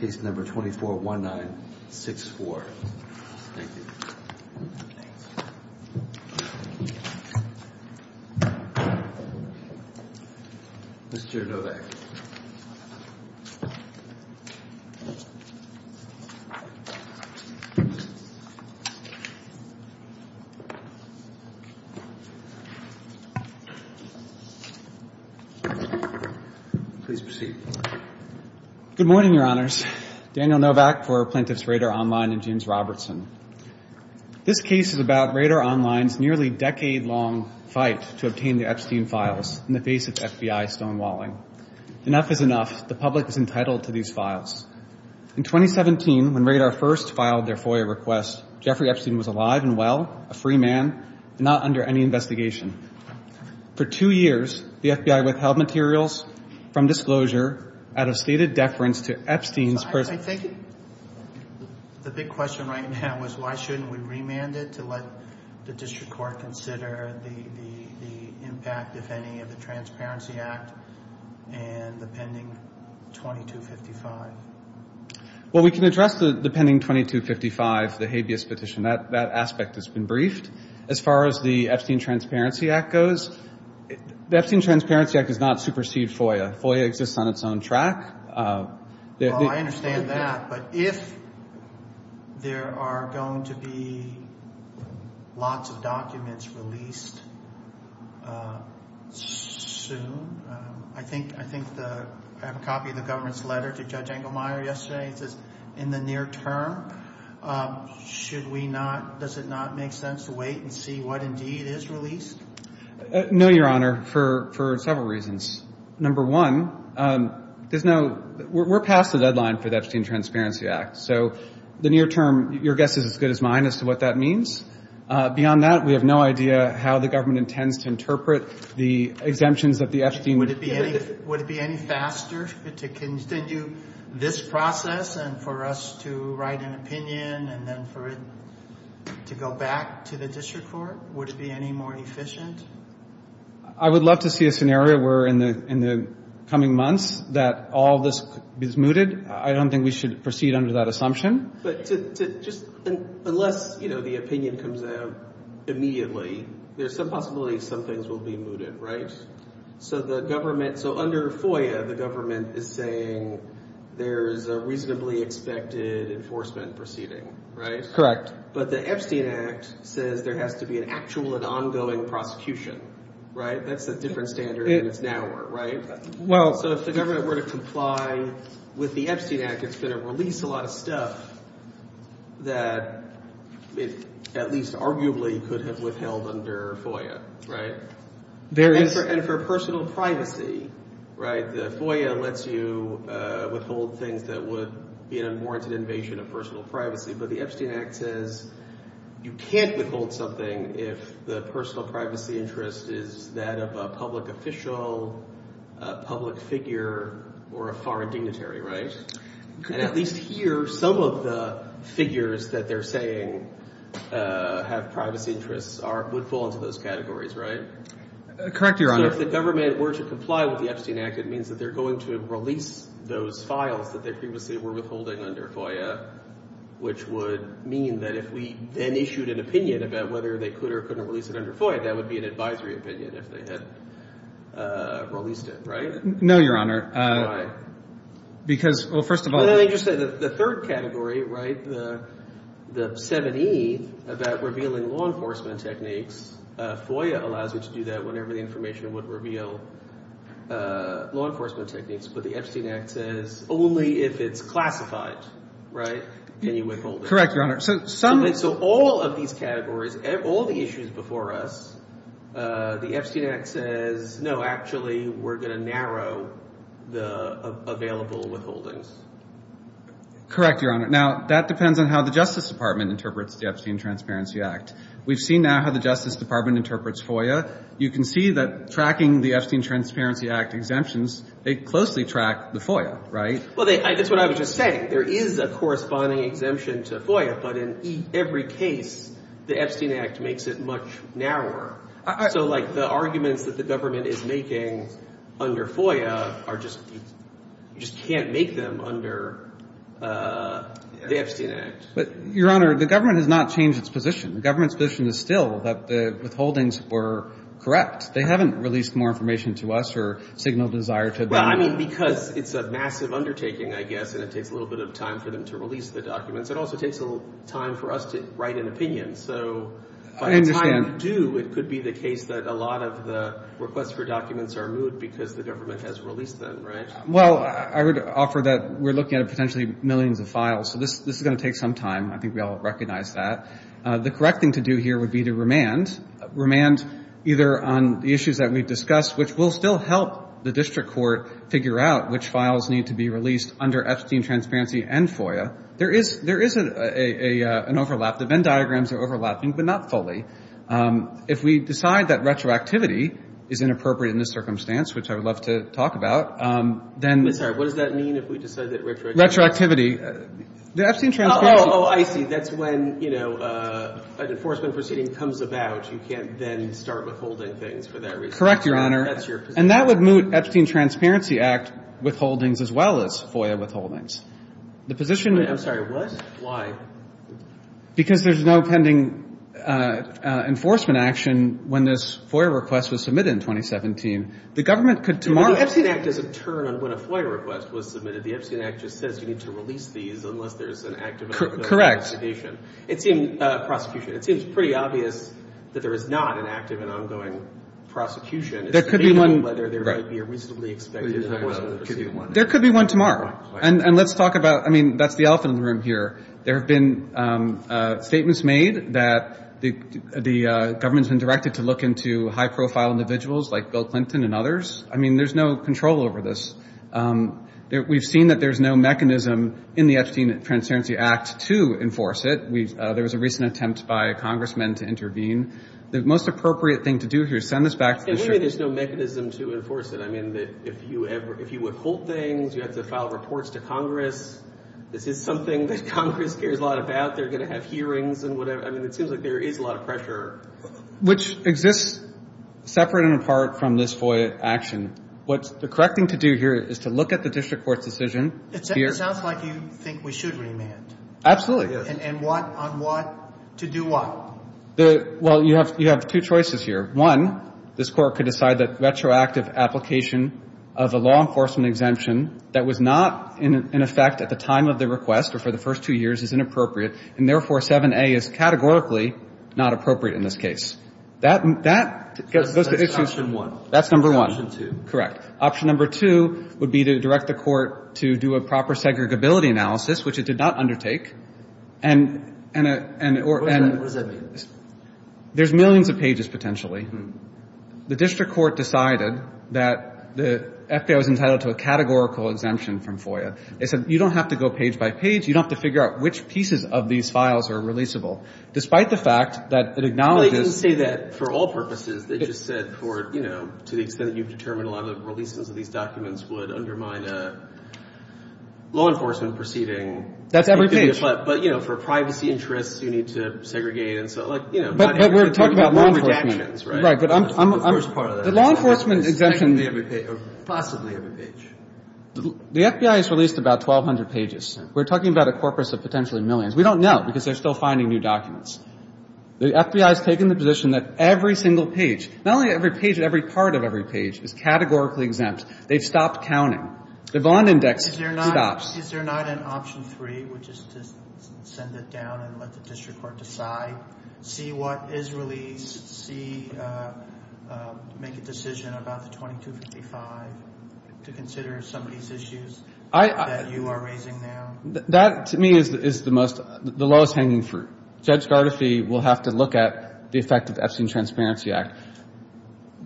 241964. Thank you. Mr. Novak. Please proceed. Good morning, Your Honors. Daniel Novak for Plaintiffs Radar Online and James Robertson. This case is about Radar Online's nearly decade-long fight to obtain the Epstein files in the face of FBI stonewalling. Enough is enough. The public is entitled to these files. In 2017, when Radar first filed their FOIA request, Jeffrey Epstein was alive and well, a free man, and not under any investigation. For two years, the FBI withheld materials, from disclosure, out of stated deference to Epstein's personal... I think the big question right now is why shouldn't we remand it to let the district court consider the impact, if any, of the Transparency Act and the pending 2255? Well, we can address the pending 2255, the habeas petition. That aspect has been briefed. As far as the Epstein Transparency Act goes, the Epstein Transparency Act is not supersede FOIA. FOIA exists on its own track. Well, I understand that, but if there are going to be lots of documents released soon, I think I have a copy of the government's letter to Judge Engelmeyer yesterday. It says, in the near term, should we not, does it not make sense to wait and see what indeed is released? No, Your Honor, for several reasons. Number one, there's no, we're past the deadline for the Epstein Transparency Act, so the near term, your guess is as good as mine as to what that means. Beyond that, we have no idea how the government intends to interpret the exemptions of the Epstein... Would it be any faster to continue this process and for us to write an opinion and then for it to go back to the district court? Would it be any more efficient? I would love to see a scenario where in the coming months that all this is mooted. I don't think we should proceed under that assumption. But just unless the opinion comes out immediately, there's some possibility some things will be mooted, right? So the government, so under FOIA, the government is saying there's a reasonably expected enforcement proceeding, right? Correct. But the Epstein Act says there has to be an actual and ongoing prosecution, right? That's a different standard and it's narrower, right? Well... So if the government were to comply with the Epstein Act, it's going to release a lot of stuff that it at least arguably could have withheld under FOIA, right? There is... Right, the FOIA lets you withhold things that would be an unwarranted invasion of personal privacy, but the Epstein Act says you can't withhold something if the personal privacy interest is that of a public official, a public figure, or a foreign dignitary, right? And at least here, some of the figures that they're saying have privacy interests would fall into those categories, right? Correct, Your Honor. But if the government were to comply with the Epstein Act, it means that they're going to release those files that they previously were withholding under FOIA, which would mean that if we then issued an opinion about whether they could or couldn't release it under FOIA, that would be an advisory opinion if they had released it, right? No, Your Honor. Why? Because, well, first of all... The third category, right, the 7E, about revealing law enforcement techniques, FOIA allows you to do that whenever the information would reveal law enforcement techniques, but the Epstein Act says only if it's classified, right? And you withhold it. Correct, Your Honor. So all of these categories, all the issues before us, the Epstein Act says, no, actually, we're going to narrow the available withholdings. Correct, Your Honor. Now, that depends on how the Justice Department interprets the Epstein Transparency Act. We've seen now how the Justice Department interprets FOIA. You can see that tracking the Epstein Transparency Act exemptions, they closely track the FOIA, right? Well, that's what I was just saying. There is a corresponding exemption to FOIA, but in every case, the Epstein Act makes it much narrower. So, like, the arguments that the government is making under FOIA are just, you just can't make them under the Epstein Act. But, Your Honor, the government has not changed its position. The government's position is still that the withholdings were correct. They haven't released more information to us or signaled desire to them. Well, I mean, because it's a massive undertaking, I guess, and it takes a little bit of time for them to release the documents. It also takes a little time for us to write an opinion. So by the time you do, it could be the case that a lot of the requests for documents are moved because the government has released them, right? Well, I would offer that we're looking at potentially millions of files. So this is going to take some time. I think we all recognize that. The correct thing to do here would be to remand, remand either on the issues that we've discussed, which will still help the district court figure out which files need to be released under Epstein transparency and FOIA. There is an overlap. The Venn diagrams are overlapping, but not fully. If we decide that retroactivity is inappropriate in this circumstance, which I would love to talk about, then. I'm sorry. What does that mean if we decide that retroactivity. Retroactivity. The Epstein transparency. Oh, I see. That's when, you know, an enforcement proceeding comes about. You can't then start withholding things for that reason. Correct, Your Honor. That's your position. And that would moot Epstein transparency act withholdings as well as FOIA withholdings. The position. I'm sorry. What? Why? Because there's no pending enforcement action when this FOIA request was submitted in 2017. The government could tomorrow. The Epstein act is a turn on when a FOIA request was submitted. The Epstein act just says you need to release these unless there's an active investigation. Correct. It seems pretty obvious that there is not an active and ongoing prosecution. There could be one. Whether there might be a reasonably expected enforcement proceeding. There could be one tomorrow. And let's talk about, I mean, that's the elephant in the room here. There have been statements made that the government has been directed to look into high profile individuals like Bill Clinton and others. I mean, there's no control over this. We've seen that there's no mechanism in the Epstein Transparency Act to enforce it. There was a recent attempt by congressmen to intervene. The most appropriate thing to do here is send this back. Maybe there's no mechanism to enforce it. I mean, if you withhold things, you have to file reports to Congress. This is something that Congress cares a lot about. They're going to have hearings and whatever. I mean, it seems like there is a lot of pressure. Which exists separate and apart from this FOIA action. What's the correct thing to do here is to look at the district court's decision. It sounds like you think we should remand. Absolutely. And what, on what, to do what? Well, you have two choices here. One, this court could decide that retroactive application of a law enforcement exemption that was not in effect at the time of the request or for the first two years is inappropriate, and therefore 7A is categorically not appropriate in this case. That's question one. That's number one. Correct. Option number two would be to direct the court to do a proper segregability analysis, which it did not undertake. What does that mean? There's millions of pages, potentially. The district court decided that the FBI was entitled to a categorical exemption from FOIA. They said you don't have to go page by page. You don't have to figure out which pieces of these files are releasable. Despite the fact that it acknowledges Well, they didn't say that for all purposes. They just said for, you know, to the extent that you've determined a lot of the releases of these documents would undermine a law enforcement proceeding. That's every page. But, you know, for privacy interests, you need to segregate and so, like, you know. But we're talking about law enforcement. Right. But I'm a first part of that. The law enforcement exemption. Possibly every page. The FBI has released about 1,200 pages. We're talking about a corpus of potentially millions. We don't know because they're still finding new documents. The FBI has taken the position that every single page, not only every page, but every part of every page is categorically exempt. They've stopped counting. The bond index stops. Is there not an option three, which is to send it down and let the district court decide, see what is released, see, make a decision about the 2255, to consider some of these issues that you are raising now? That, to me, is the most, the lowest hanging fruit. Judge Gardefee will have to look at the effect of the Epstein Transparency Act.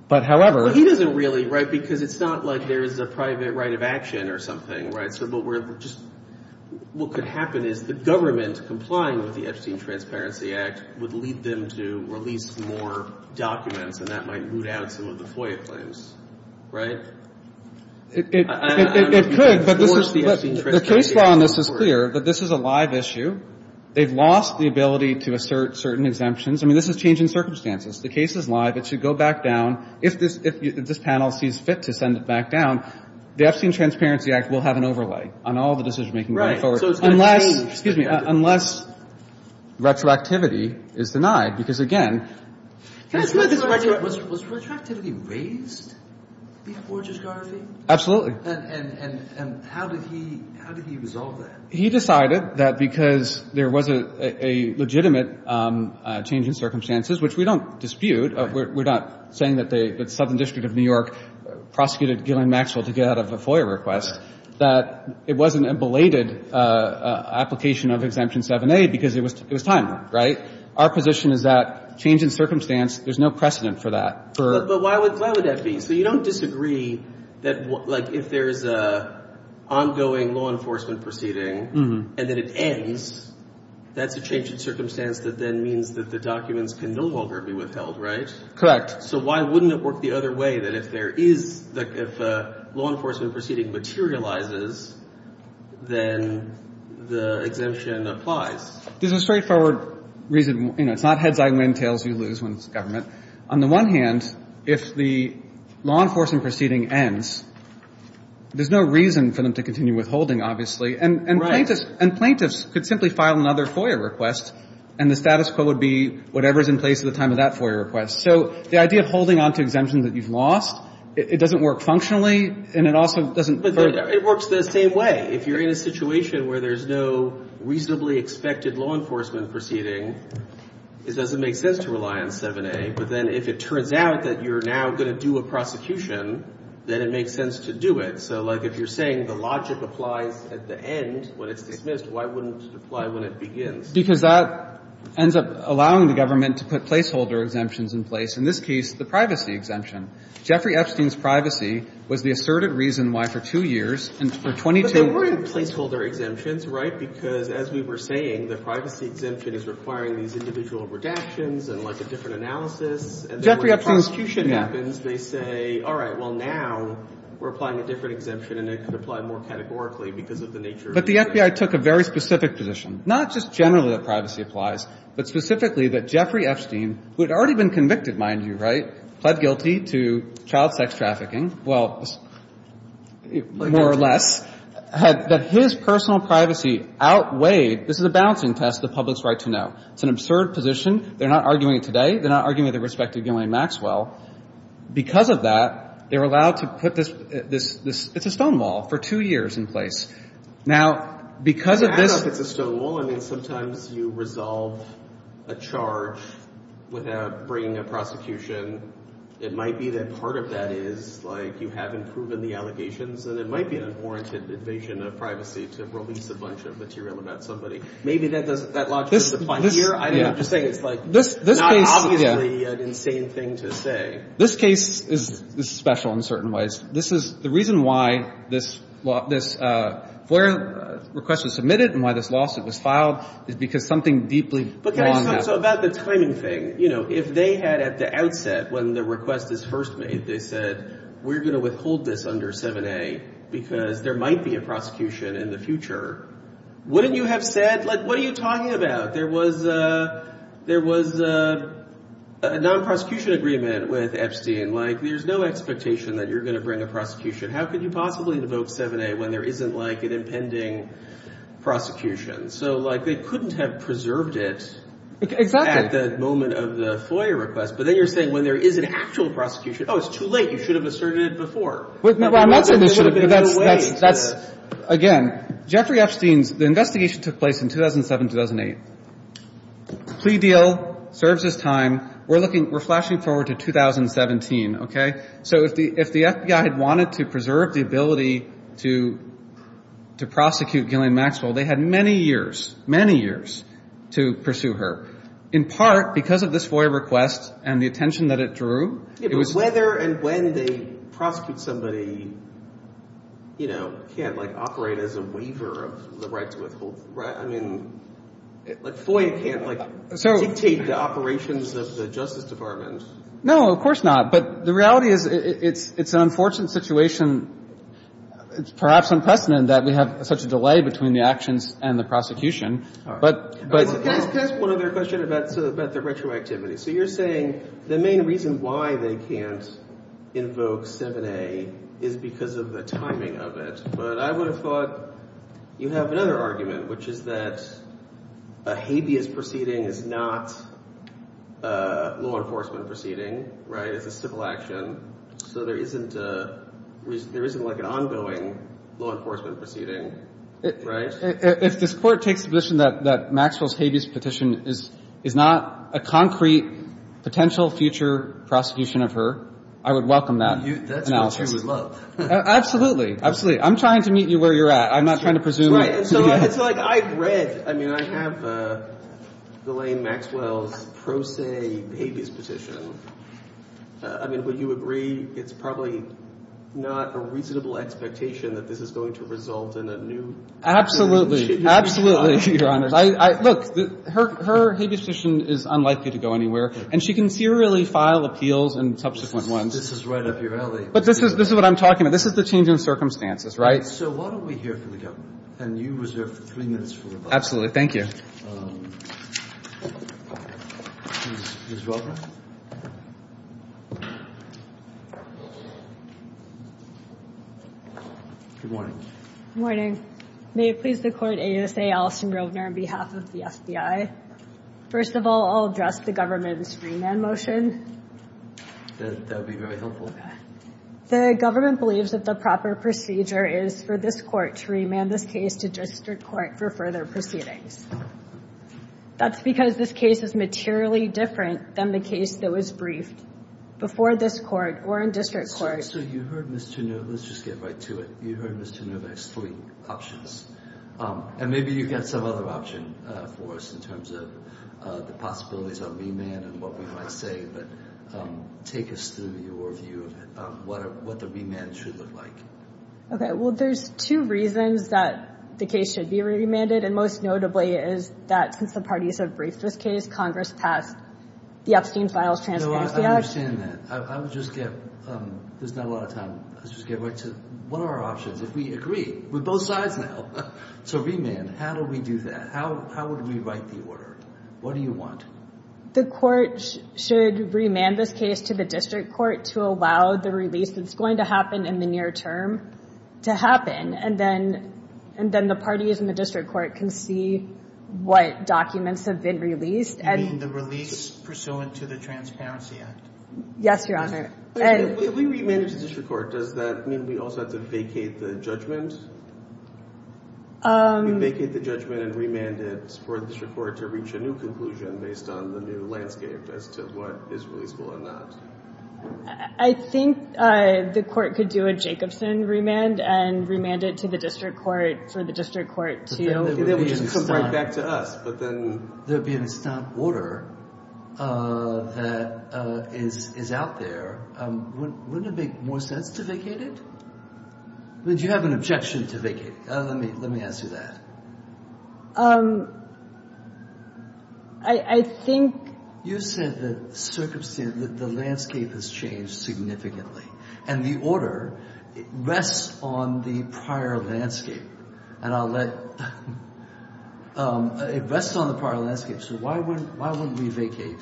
But, however. But he doesn't really, right, because it's not like there is a private right of action or something, right? So, but we're just, what could happen is the government complying with the Epstein Transparency Act would lead them to release more documents, and that might root out some of the FOIA claims. Right? It could, but this is. The case law on this is clear, but this is a live issue. They've lost the ability to assert certain exemptions. I mean, this is changing circumstances. The case is live. It should go back down. If this, if this panel sees fit to send it back down, the Epstein Transparency Act will have an overlay on all the decision-making going forward. So it's going to change. Unless, excuse me, unless retroactivity is denied, because, again. Was retroactivity raised before Judge Gardee? Absolutely. And how did he, how did he resolve that? He decided that because there was a legitimate change in circumstances, which we don't dispute. We're not saying that the Southern District of New York prosecuted Gillian Maxwell to get out of a FOIA request, that it wasn't a belated application of Exemption 7A because it was time, right? Our position is that change in circumstance, there's no precedent for that. But why would that be? So you don't disagree that, like, if there's an ongoing law enforcement proceeding and then it ends, that's a change in circumstance that then means that the documents can no longer be withheld, right? Correct. So why wouldn't it work the other way, that if there is, like, if a law enforcement proceeding materializes, then the exemption applies? There's a straightforward reason. You know, it's not heads, I win, tails, you lose when it's government. On the one hand, if the law enforcement proceeding ends, there's no reason for them to continue withholding, obviously. And plaintiffs could simply file another FOIA request, and the status quo would be whatever is in place at the time of that FOIA request. So the idea of holding on to exemption that you've lost, it doesn't work functionally, and it also doesn't hurt. But it works the same way. If you're in a situation where there's no reasonably expected law enforcement proceeding, it doesn't make sense to rely on 7A. But then if it turns out that you're now going to do a prosecution, then it makes sense to do it. So, like, if you're saying the logic applies at the end when it's dismissed, why wouldn't it apply when it begins? Because that ends up allowing the government to put placeholder exemptions in place, in this case the privacy exemption. Jeffrey Epstein's privacy was the asserted reason why for two years, and for 22 years. But there weren't placeholder exemptions, right? Because as we were saying, the privacy exemption is requiring these individual redactions and, like, a different analysis. Jeffrey Epstein's, yeah. And then when prosecution happens, they say, all right, well, now we're applying a different exemption, and it could apply more categorically because of the nature of the exemption. But the FBI took a very specific position, not just generally that privacy applies, but specifically that Jeffrey Epstein, who had already been convicted, mind you, right, pled guilty to child sex trafficking, well, more or less, that his personal privacy outweighed, this is a balancing test, the public's right to know. It's an absurd position. They're not arguing it today. They're not arguing it with respect to Gillian Maxwell. Because of that, they were allowed to put this, it's a stonewall for two years in place. Now, because of this. I don't know if it's a stonewall. I mean, sometimes you resolve a charge without bringing a prosecution. It might be that part of that is, like, you haven't proven the allegations, and it might be an inoriented invasion of privacy to release a bunch of material about somebody. Maybe that logic is applied here. I'm just saying it's, like, not obviously an insane thing to say. This case is special in certain ways. This is, the reason why this FOIA request was submitted and why this lawsuit was filed is because something deeply wrong happened. But can I just talk about the timing thing? You know, if they had at the outset, when the request is first made, they said, we're going to withhold this under 7A because there might be a prosecution in the future, wouldn't you have said, like, what are you talking about? There was a non-prosecution agreement with Epstein. Like, there's no expectation that you're going to bring a prosecution. How could you possibly invoke 7A when there isn't, like, an impending prosecution? So, like, they couldn't have preserved it at the moment of the FOIA request. But then you're saying when there is an actual prosecution, oh, it's too late. You should have asserted it before. Well, that's an issue, but that's, that's, that's, again, Jeffrey Epstein's, the investigation took place in 2007, 2008. Plea deal, serves his time. We're looking, we're flashing forward to 2017, okay? So if the, if the FBI had wanted to preserve the ability to, to prosecute Gillian Maxwell, they had many years, many years to pursue her. In part because of this FOIA request and the attention that it drew. Yeah, but whether and when they prosecute somebody, you know, can't, like, operate as a waiver of the right to withhold, right? I mean, like, FOIA can't, like, dictate the operations of the Justice Department. No, of course not. But the reality is it's, it's an unfortunate situation. It's perhaps unprecedented that we have such a delay between the actions and the prosecution. But, but. Can I ask one other question about, about the retroactivity? So you're saying the main reason why they can't invoke 7A is because of the timing of it. But I would have thought you have another argument, which is that a habeas proceeding is not a law enforcement proceeding, right? It's a civil action. So there isn't a, there isn't, like, an ongoing law enforcement proceeding, right? If, if this Court takes the position that, that Maxwell's habeas petition is, is not a concrete potential future prosecution of her, I would welcome that analysis. That's what she would love. Absolutely. Absolutely. I'm trying to meet you where you're at. I'm not trying to presume. Right. And so it's like I've read, I mean, I have Ghislaine Maxwell's pro se habeas petition. I mean, would you agree it's probably not a reasonable expectation that this is going to result in a new. Absolutely. Absolutely, Your Honor. I, I, look, her, her habeas petition is unlikely to go anywhere. And she can serially file appeals and subsequent ones. This is right up your alley. But this is, this is what I'm talking about. This is the change in circumstances, right? So why don't we hear from the government? And you reserve three minutes for rebuttal. Absolutely. Thank you. Ms. Welker? Good morning. Good morning. May it please the court, ASA Allison Rovner on behalf of the FBI. First of all, I'll address the government's remand motion. That would be very helpful. The government believes that the proper procedure is for this court to remand this case to district court for further proceedings. That's because this case is materially different than the case that was briefed before this court or in district court. Let's just get right to it. You heard Mr. Novak's three options. And maybe you've got some other option for us in terms of the possibilities of remand and what we might say. But take us through your view of what the remand should look like. Okay. Well, there's two reasons that the case should be remanded. And most notably is that since the parties have briefed this case, Congress passed the Epstein Files Transparency Act. No, I understand that. There's not a lot of time. Let's just get right to it. What are our options if we agree with both sides now? So remand, how do we do that? How would we write the order? What do you want? The court should remand this case to the district court to allow the release that's going to happen in the near term to happen. And then the parties in the district court can see what documents have been released. You mean the release pursuant to the Transparency Act? Yes, Your Honor. If we remand it to the district court, does that mean we also have to vacate the judgment? Vacate the judgment and remand it for the district court to reach a new conclusion based on the new landscape as to what is releasable or not? I think the court could do a Jacobson remand and remand it to the district court for the district court to come right back to us. But then there would be an instant order that is out there. Wouldn't it make more sense to vacate it? Would you have an objection to vacate? Let me ask you that. I think. You said that the landscape has changed significantly. And the order rests on the prior landscape. And I'll let it rest on the prior landscape. So why wouldn't we vacate?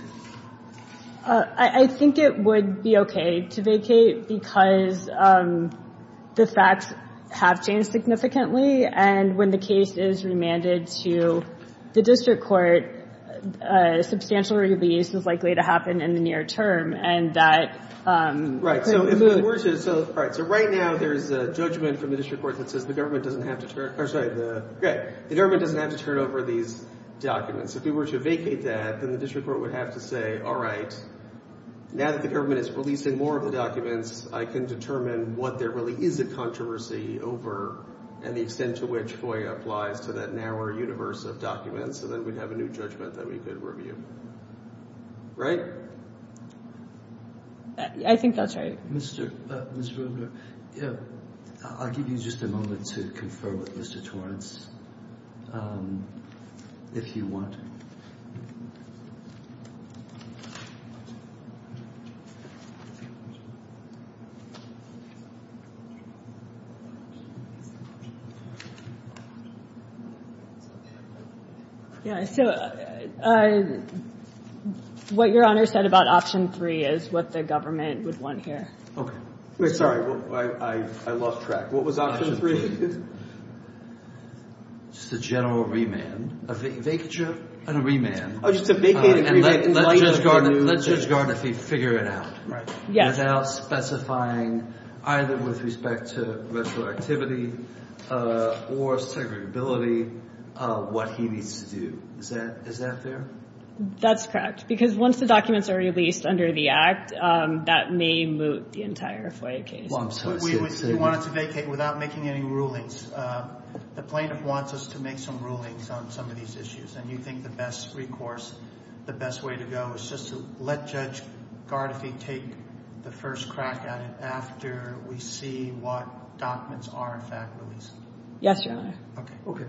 I think it would be okay to vacate because the facts have changed significantly. And when the case is remanded to the district court, a substantial release is likely to happen in the near term. Right. So right now there's a judgment from the district court that says the government doesn't have to turn over these documents. If we were to vacate that, then the district court would have to say, all right, now that the government is releasing more of the documents, I can determine what there really is a controversy over and the extent to which FOIA applies to that narrower universe of documents. So then we'd have a new judgment that we could review. Right? I think that's right. Mr. Rubner, I'll give you just a moment to confer with Mr. Torrance, if you want. Yeah. So what Your Honor said about option three is what the government would want here. Okay. Sorry. I lost track. What was option three? Just a general remand. A vacature? A remand. Oh, just a vacated remand. And let Judge Gardner figure it out. Right. Yes. Without specifying either with respect to retroactivity or segregability what he needs to do. Is that fair? That's correct. Because once the documents are released under the Act, that may moot the entire FOIA case. We want it to vacate without making any rulings. The plaintiff wants us to make some rulings on some of these issues. And you think the best recourse, the best way to go is just to let Judge Gardner take the first crack at it after we see what documents are in fact released. Yes, Your Honor. Okay.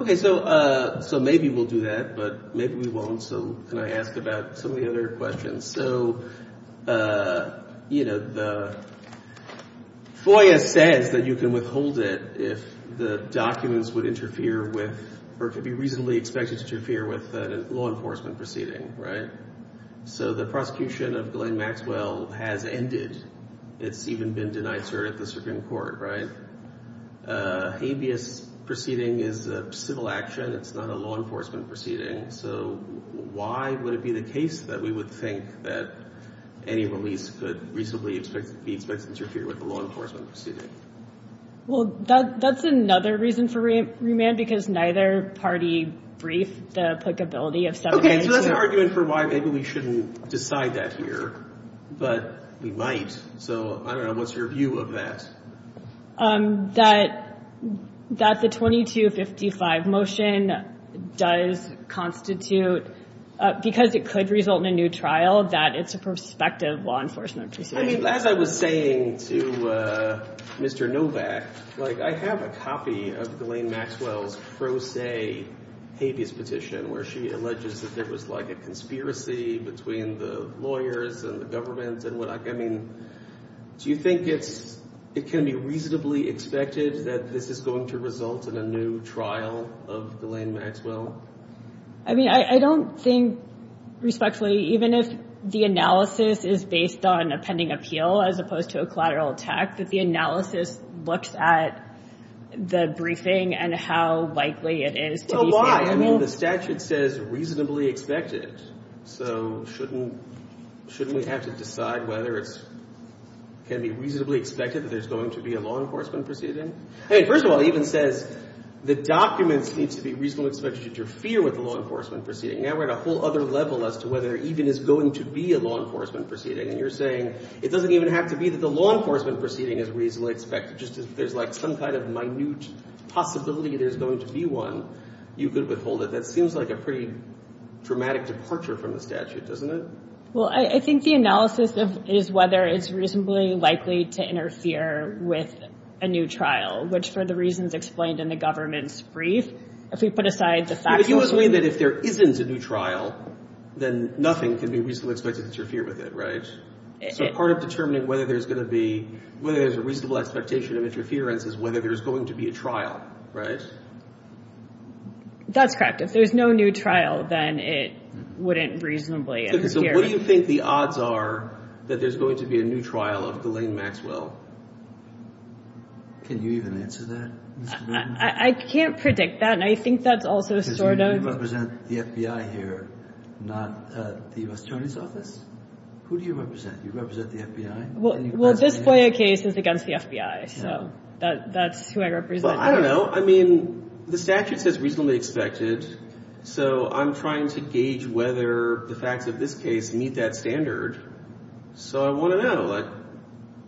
Okay. So maybe we'll do that, but maybe we won't. So can I ask about some of the other questions? So, you know, the FOIA says that you can withhold it if the documents would interfere with or could be reasonably expected to interfere with a law enforcement proceeding, right? So the prosecution of Glenn Maxwell has ended. It's even been denied cert at the Supreme Court, right? Habeas proceeding is a civil action. It's not a law enforcement proceeding. So why would it be the case that we would think that any release could reasonably be expected to interfere with a law enforcement proceeding? Well, that's another reason for remand, because neither party briefed the applicability of subpoenas. Okay, so that's an argument for why maybe we shouldn't decide that here, but we might. So I don't know. What's your view of that? That the 2255 motion does constitute, because it could result in a new trial, that it's a prospective law enforcement proceeding. I mean, as I was saying to Mr. Novak, like, I have a copy of Glenn Maxwell's pro se habeas petition, where she alleges that there was, like, a conspiracy between the lawyers and the government. I mean, do you think it can be reasonably expected that this is going to result in a new trial of Glenn Maxwell? I mean, I don't think, respectfully, even if the analysis is based on a pending appeal as opposed to a collateral attack, that the analysis looks at the briefing and how likely it is. Well, why? I mean, the statute says reasonably expected. So shouldn't we have to decide whether it can be reasonably expected that there's going to be a law enforcement proceeding? I mean, first of all, it even says the documents need to be reasonably expected to interfere with the law enforcement proceeding. Now we're at a whole other level as to whether there even is going to be a law enforcement proceeding. And you're saying it doesn't even have to be that the law enforcement proceeding is reasonably expected. Just if there's, like, some kind of minute possibility there's going to be one, you could withhold it. That seems like a pretty dramatic departure from the statute, doesn't it? Well, I think the analysis is whether it's reasonably likely to interfere with a new trial, which, for the reasons explained in the government's brief, if we put aside the fact that— But you always mean that if there isn't a new trial, then nothing can be reasonably expected to interfere with it, right? So part of determining whether there's going to be—whether there's a reasonable expectation of interference is whether there's going to be a trial, right? That's correct. If there's no new trial, then it wouldn't reasonably interfere. So what do you think the odds are that there's going to be a new trial of Delaine Maxwell? Can you even answer that, Mr. Burton? I can't predict that, and I think that's also sort of— Because you represent the FBI here, not the U.S. Attorney's Office? Who do you represent? You represent the FBI? Well, this FOIA case is against the FBI, so that's who I represent. Well, I don't know. I mean, the statute says reasonably expected, so I'm trying to gauge whether the facts of this case meet that standard. So I want to know.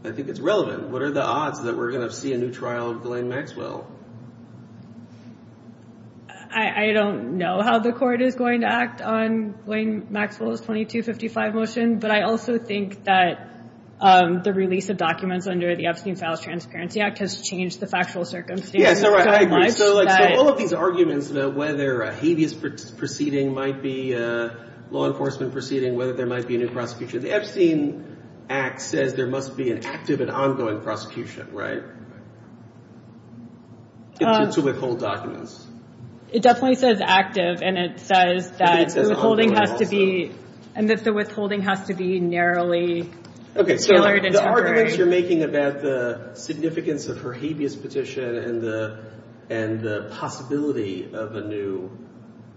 I think it's relevant. What are the odds that we're going to see a new trial of Delaine Maxwell? I don't know how the court is going to act on Delaine Maxwell's 2255 motion, but I also think that the release of documents under the Epstein-Fowles Transparency Act has changed the factual circumstances so much that— Yeah, so I agree. So all of these arguments about whether a habeas proceeding might be a law enforcement proceeding, whether there might be a new prosecution, the Epstein Act says there must be an active and ongoing prosecution, right? To withhold documents. It definitely says active, and it says that— I think it says ongoing also. And that the withholding has to be narrowly tailored and temporary. Okay, so the arguments you're making about the significance of her habeas petition and the possibility of a new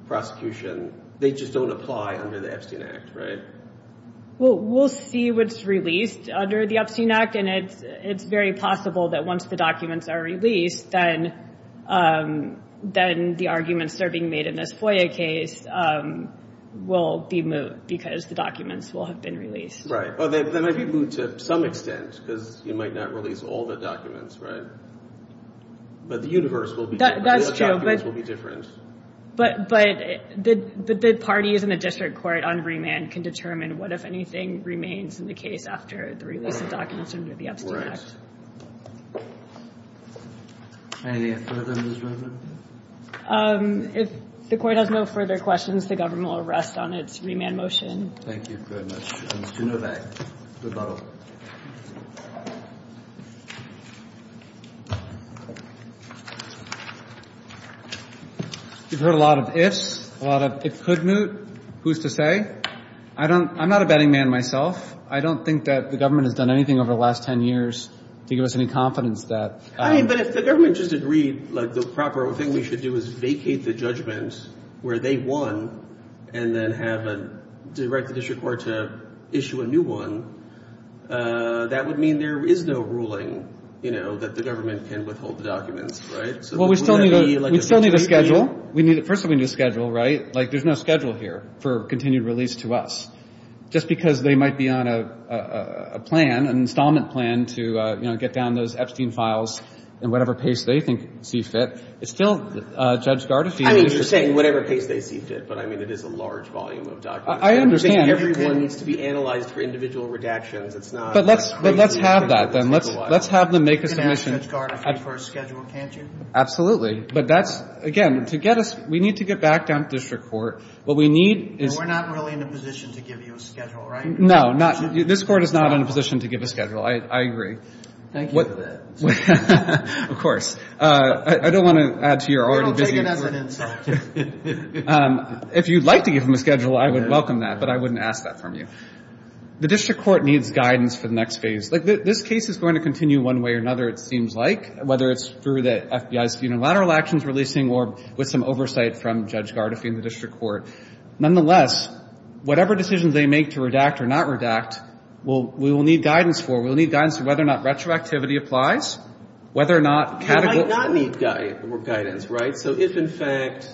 prosecution, they just don't apply under the Epstein Act, right? Well, we'll see what's released under the Epstein Act, and it's very possible that once the documents are released, then the arguments that are being made in this FOIA case will be moot because the documents will have been released. Right. Well, they might be moot to some extent because you might not release all the documents, right? But the universe will be different. That's true, but— The documents will be different. But the parties in the district court on remand can determine what, if anything, remains in the case after the release of documents under the Epstein Act. Anything further, Ms. Redmond? If the Court has no further questions, the Government will rest on its remand motion. Thank you very much. Mr. Novak, rebuttal. You've heard a lot of ifs, a lot of it could moot. Who's to say? I don't—I'm not a betting man myself. I don't think that the Government has done anything over the last 10 years to give us any confidence that— But if the Government just agreed, like, the proper thing we should do is vacate the judgment where they won and then have a—direct the district court to issue a new one, that would mean there is no ruling, you know, that the Government can withhold the documents, right? Well, we still need a schedule. First of all, we need a schedule, right? Like, there's no schedule here for continued release to us. Just because they might be on a plan, an installment plan to, you know, get down those Epstein files in whatever pace they think see fit, it's still Judge Gardefee— I mean, you're saying whatever pace they see fit, but, I mean, it is a large volume of documents. I understand. Everyone needs to be analyzed for individual redactions. It's not— But let's have that, then. Let's have them make a submission. You can ask Judge Gardefee for a schedule, can't you? Absolutely. But that's—again, to get us—we need to get back down to district court. What we need is— No, not—this Court is not in a position to give a schedule. I agree. Thank you for that. Of course. I don't want to add to your already busy— We don't take it as an insult. If you'd like to give them a schedule, I would welcome that, but I wouldn't ask that from you. The district court needs guidance for the next phase. Like, this case is going to continue one way or another, it seems like, whether it's through the FBI's unilateral actions releasing or with some oversight from Judge Gardefee and the district court. Nonetheless, whatever decisions they make to redact or not redact, we will need guidance for. We will need guidance on whether or not retroactivity applies, whether or not— They might not need guidance, right? So if, in fact,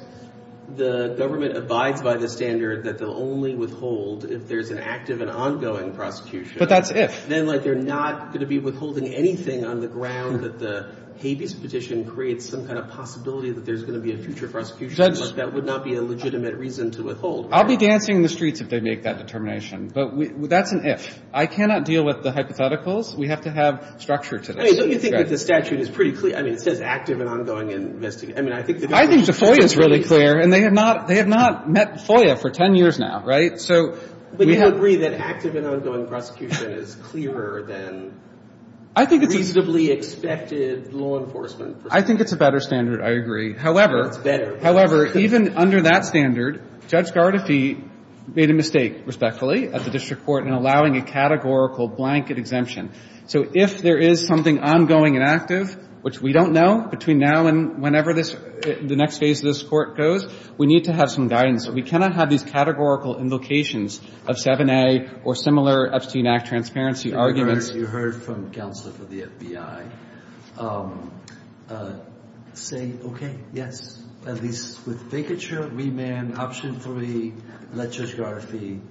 the government abides by the standard that they'll only withhold if there's an active and ongoing prosecution— But that's if. Then, like, they're not going to be withholding anything on the ground that the habeas petition creates some kind of possibility that there's going to be a future prosecution. That would not be a legitimate reason to withhold. I'll be dancing in the streets if they make that determination, but that's an if. I cannot deal with the hypotheticals. We have to have structure to this. I mean, don't you think that the statute is pretty clear? I mean, it says active and ongoing investigation. I mean, I think— I think the FOIA is really clear, and they have not met FOIA for 10 years now, right? So we have— But you agree that active and ongoing prosecution is clearer than reasonably expected law enforcement? I think it's a better standard. I agree. However— No, it's better. However, even under that standard, Judge Gardefee made a mistake, respectfully, at the district court in allowing a categorical blanket exemption. So if there is something ongoing and active, which we don't know, between now and whenever this — the next phase of this Court goes, we need to have some guidance. We cannot have these categorical invocations of 7A or similar Epstein Act transparency arguments. Your Honor, as you heard from counsel for the FBI, say, okay, yes, at least with vacature, remand, option three, let Judge Gardeefee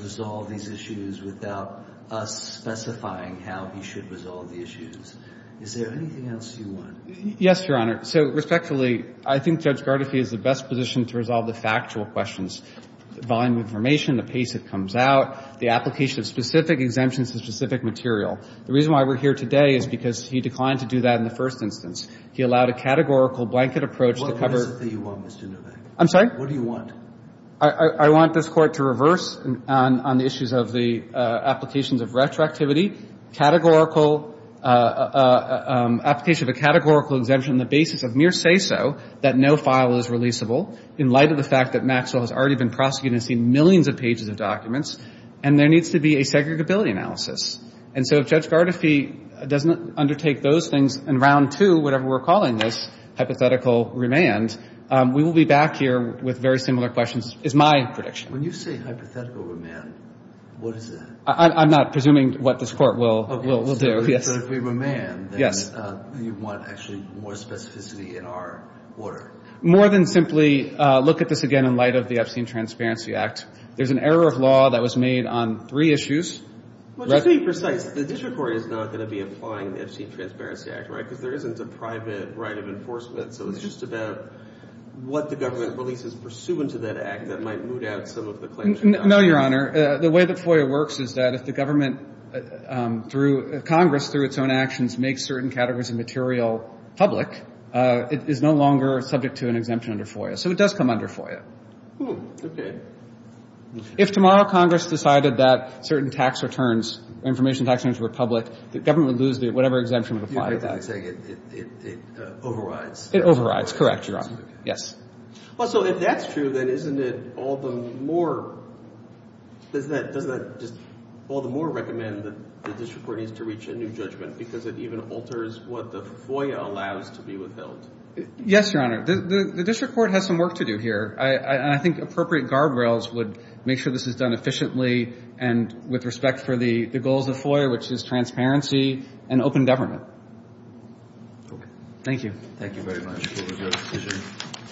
resolve these issues without us specifying how he should resolve the issues. Is there anything else you want? Yes, Your Honor. So, respectfully, I think Judge Gardeefee is in the best position to resolve the factual questions. I think the reason why he's here today is because he declined to do that in the first instance. He allowed a categorical blanket approach to cover— What message do you want, Mr. Novak? I'm sorry? What do you want? I want this Court to reverse on the issues of the applications of retroactivity, categorical — application of a categorical exemption on the basis of mere say-so that no file is releasable in light of the fact that Maxwell has already been prosecuting and seen millions of pages of documents, and there needs to be a segregability analysis. And so if Judge Gardeefee doesn't undertake those things in round two, whatever we're calling this, hypothetical remand, we will be back here with very similar questions, is my prediction. When you say hypothetical remand, what is that? I'm not presuming what this Court will do, yes. But if we remand, then you want actually more specificity in our order. More than simply look at this again in light of the Epstein Transparency Act. There's an error of law that was made on three issues. Well, to be precise, the district court is not going to be applying the Epstein Transparency Act, right, because there isn't a private right of enforcement, so it's just about what the government releases pursuant to that act that might moot out some of the claims. No, Your Honor. The way that FOIA works is that if the government, through Congress, through its own actions, makes certain categories of material public, it is no longer subject to an exemption under FOIA. So it does come under FOIA. Oh, okay. If tomorrow Congress decided that certain tax returns, information tax returns were public, the government would lose whatever exemption would apply to that. You're basically saying it overrides. It overrides, correct, Your Honor, yes. Well, so if that's true, then isn't it all the more, does that just all the more recommend that the district court needs to reach a new judgment because it even alters what the FOIA allows to be withheld? Yes, Your Honor. The district court has some work to do here, and I think appropriate guardrails would make sure this is done efficiently and with respect for the goals of FOIA, which is transparency and open government. Okay. Thank you. Thank you very much. Appreciate it. Appreciate it.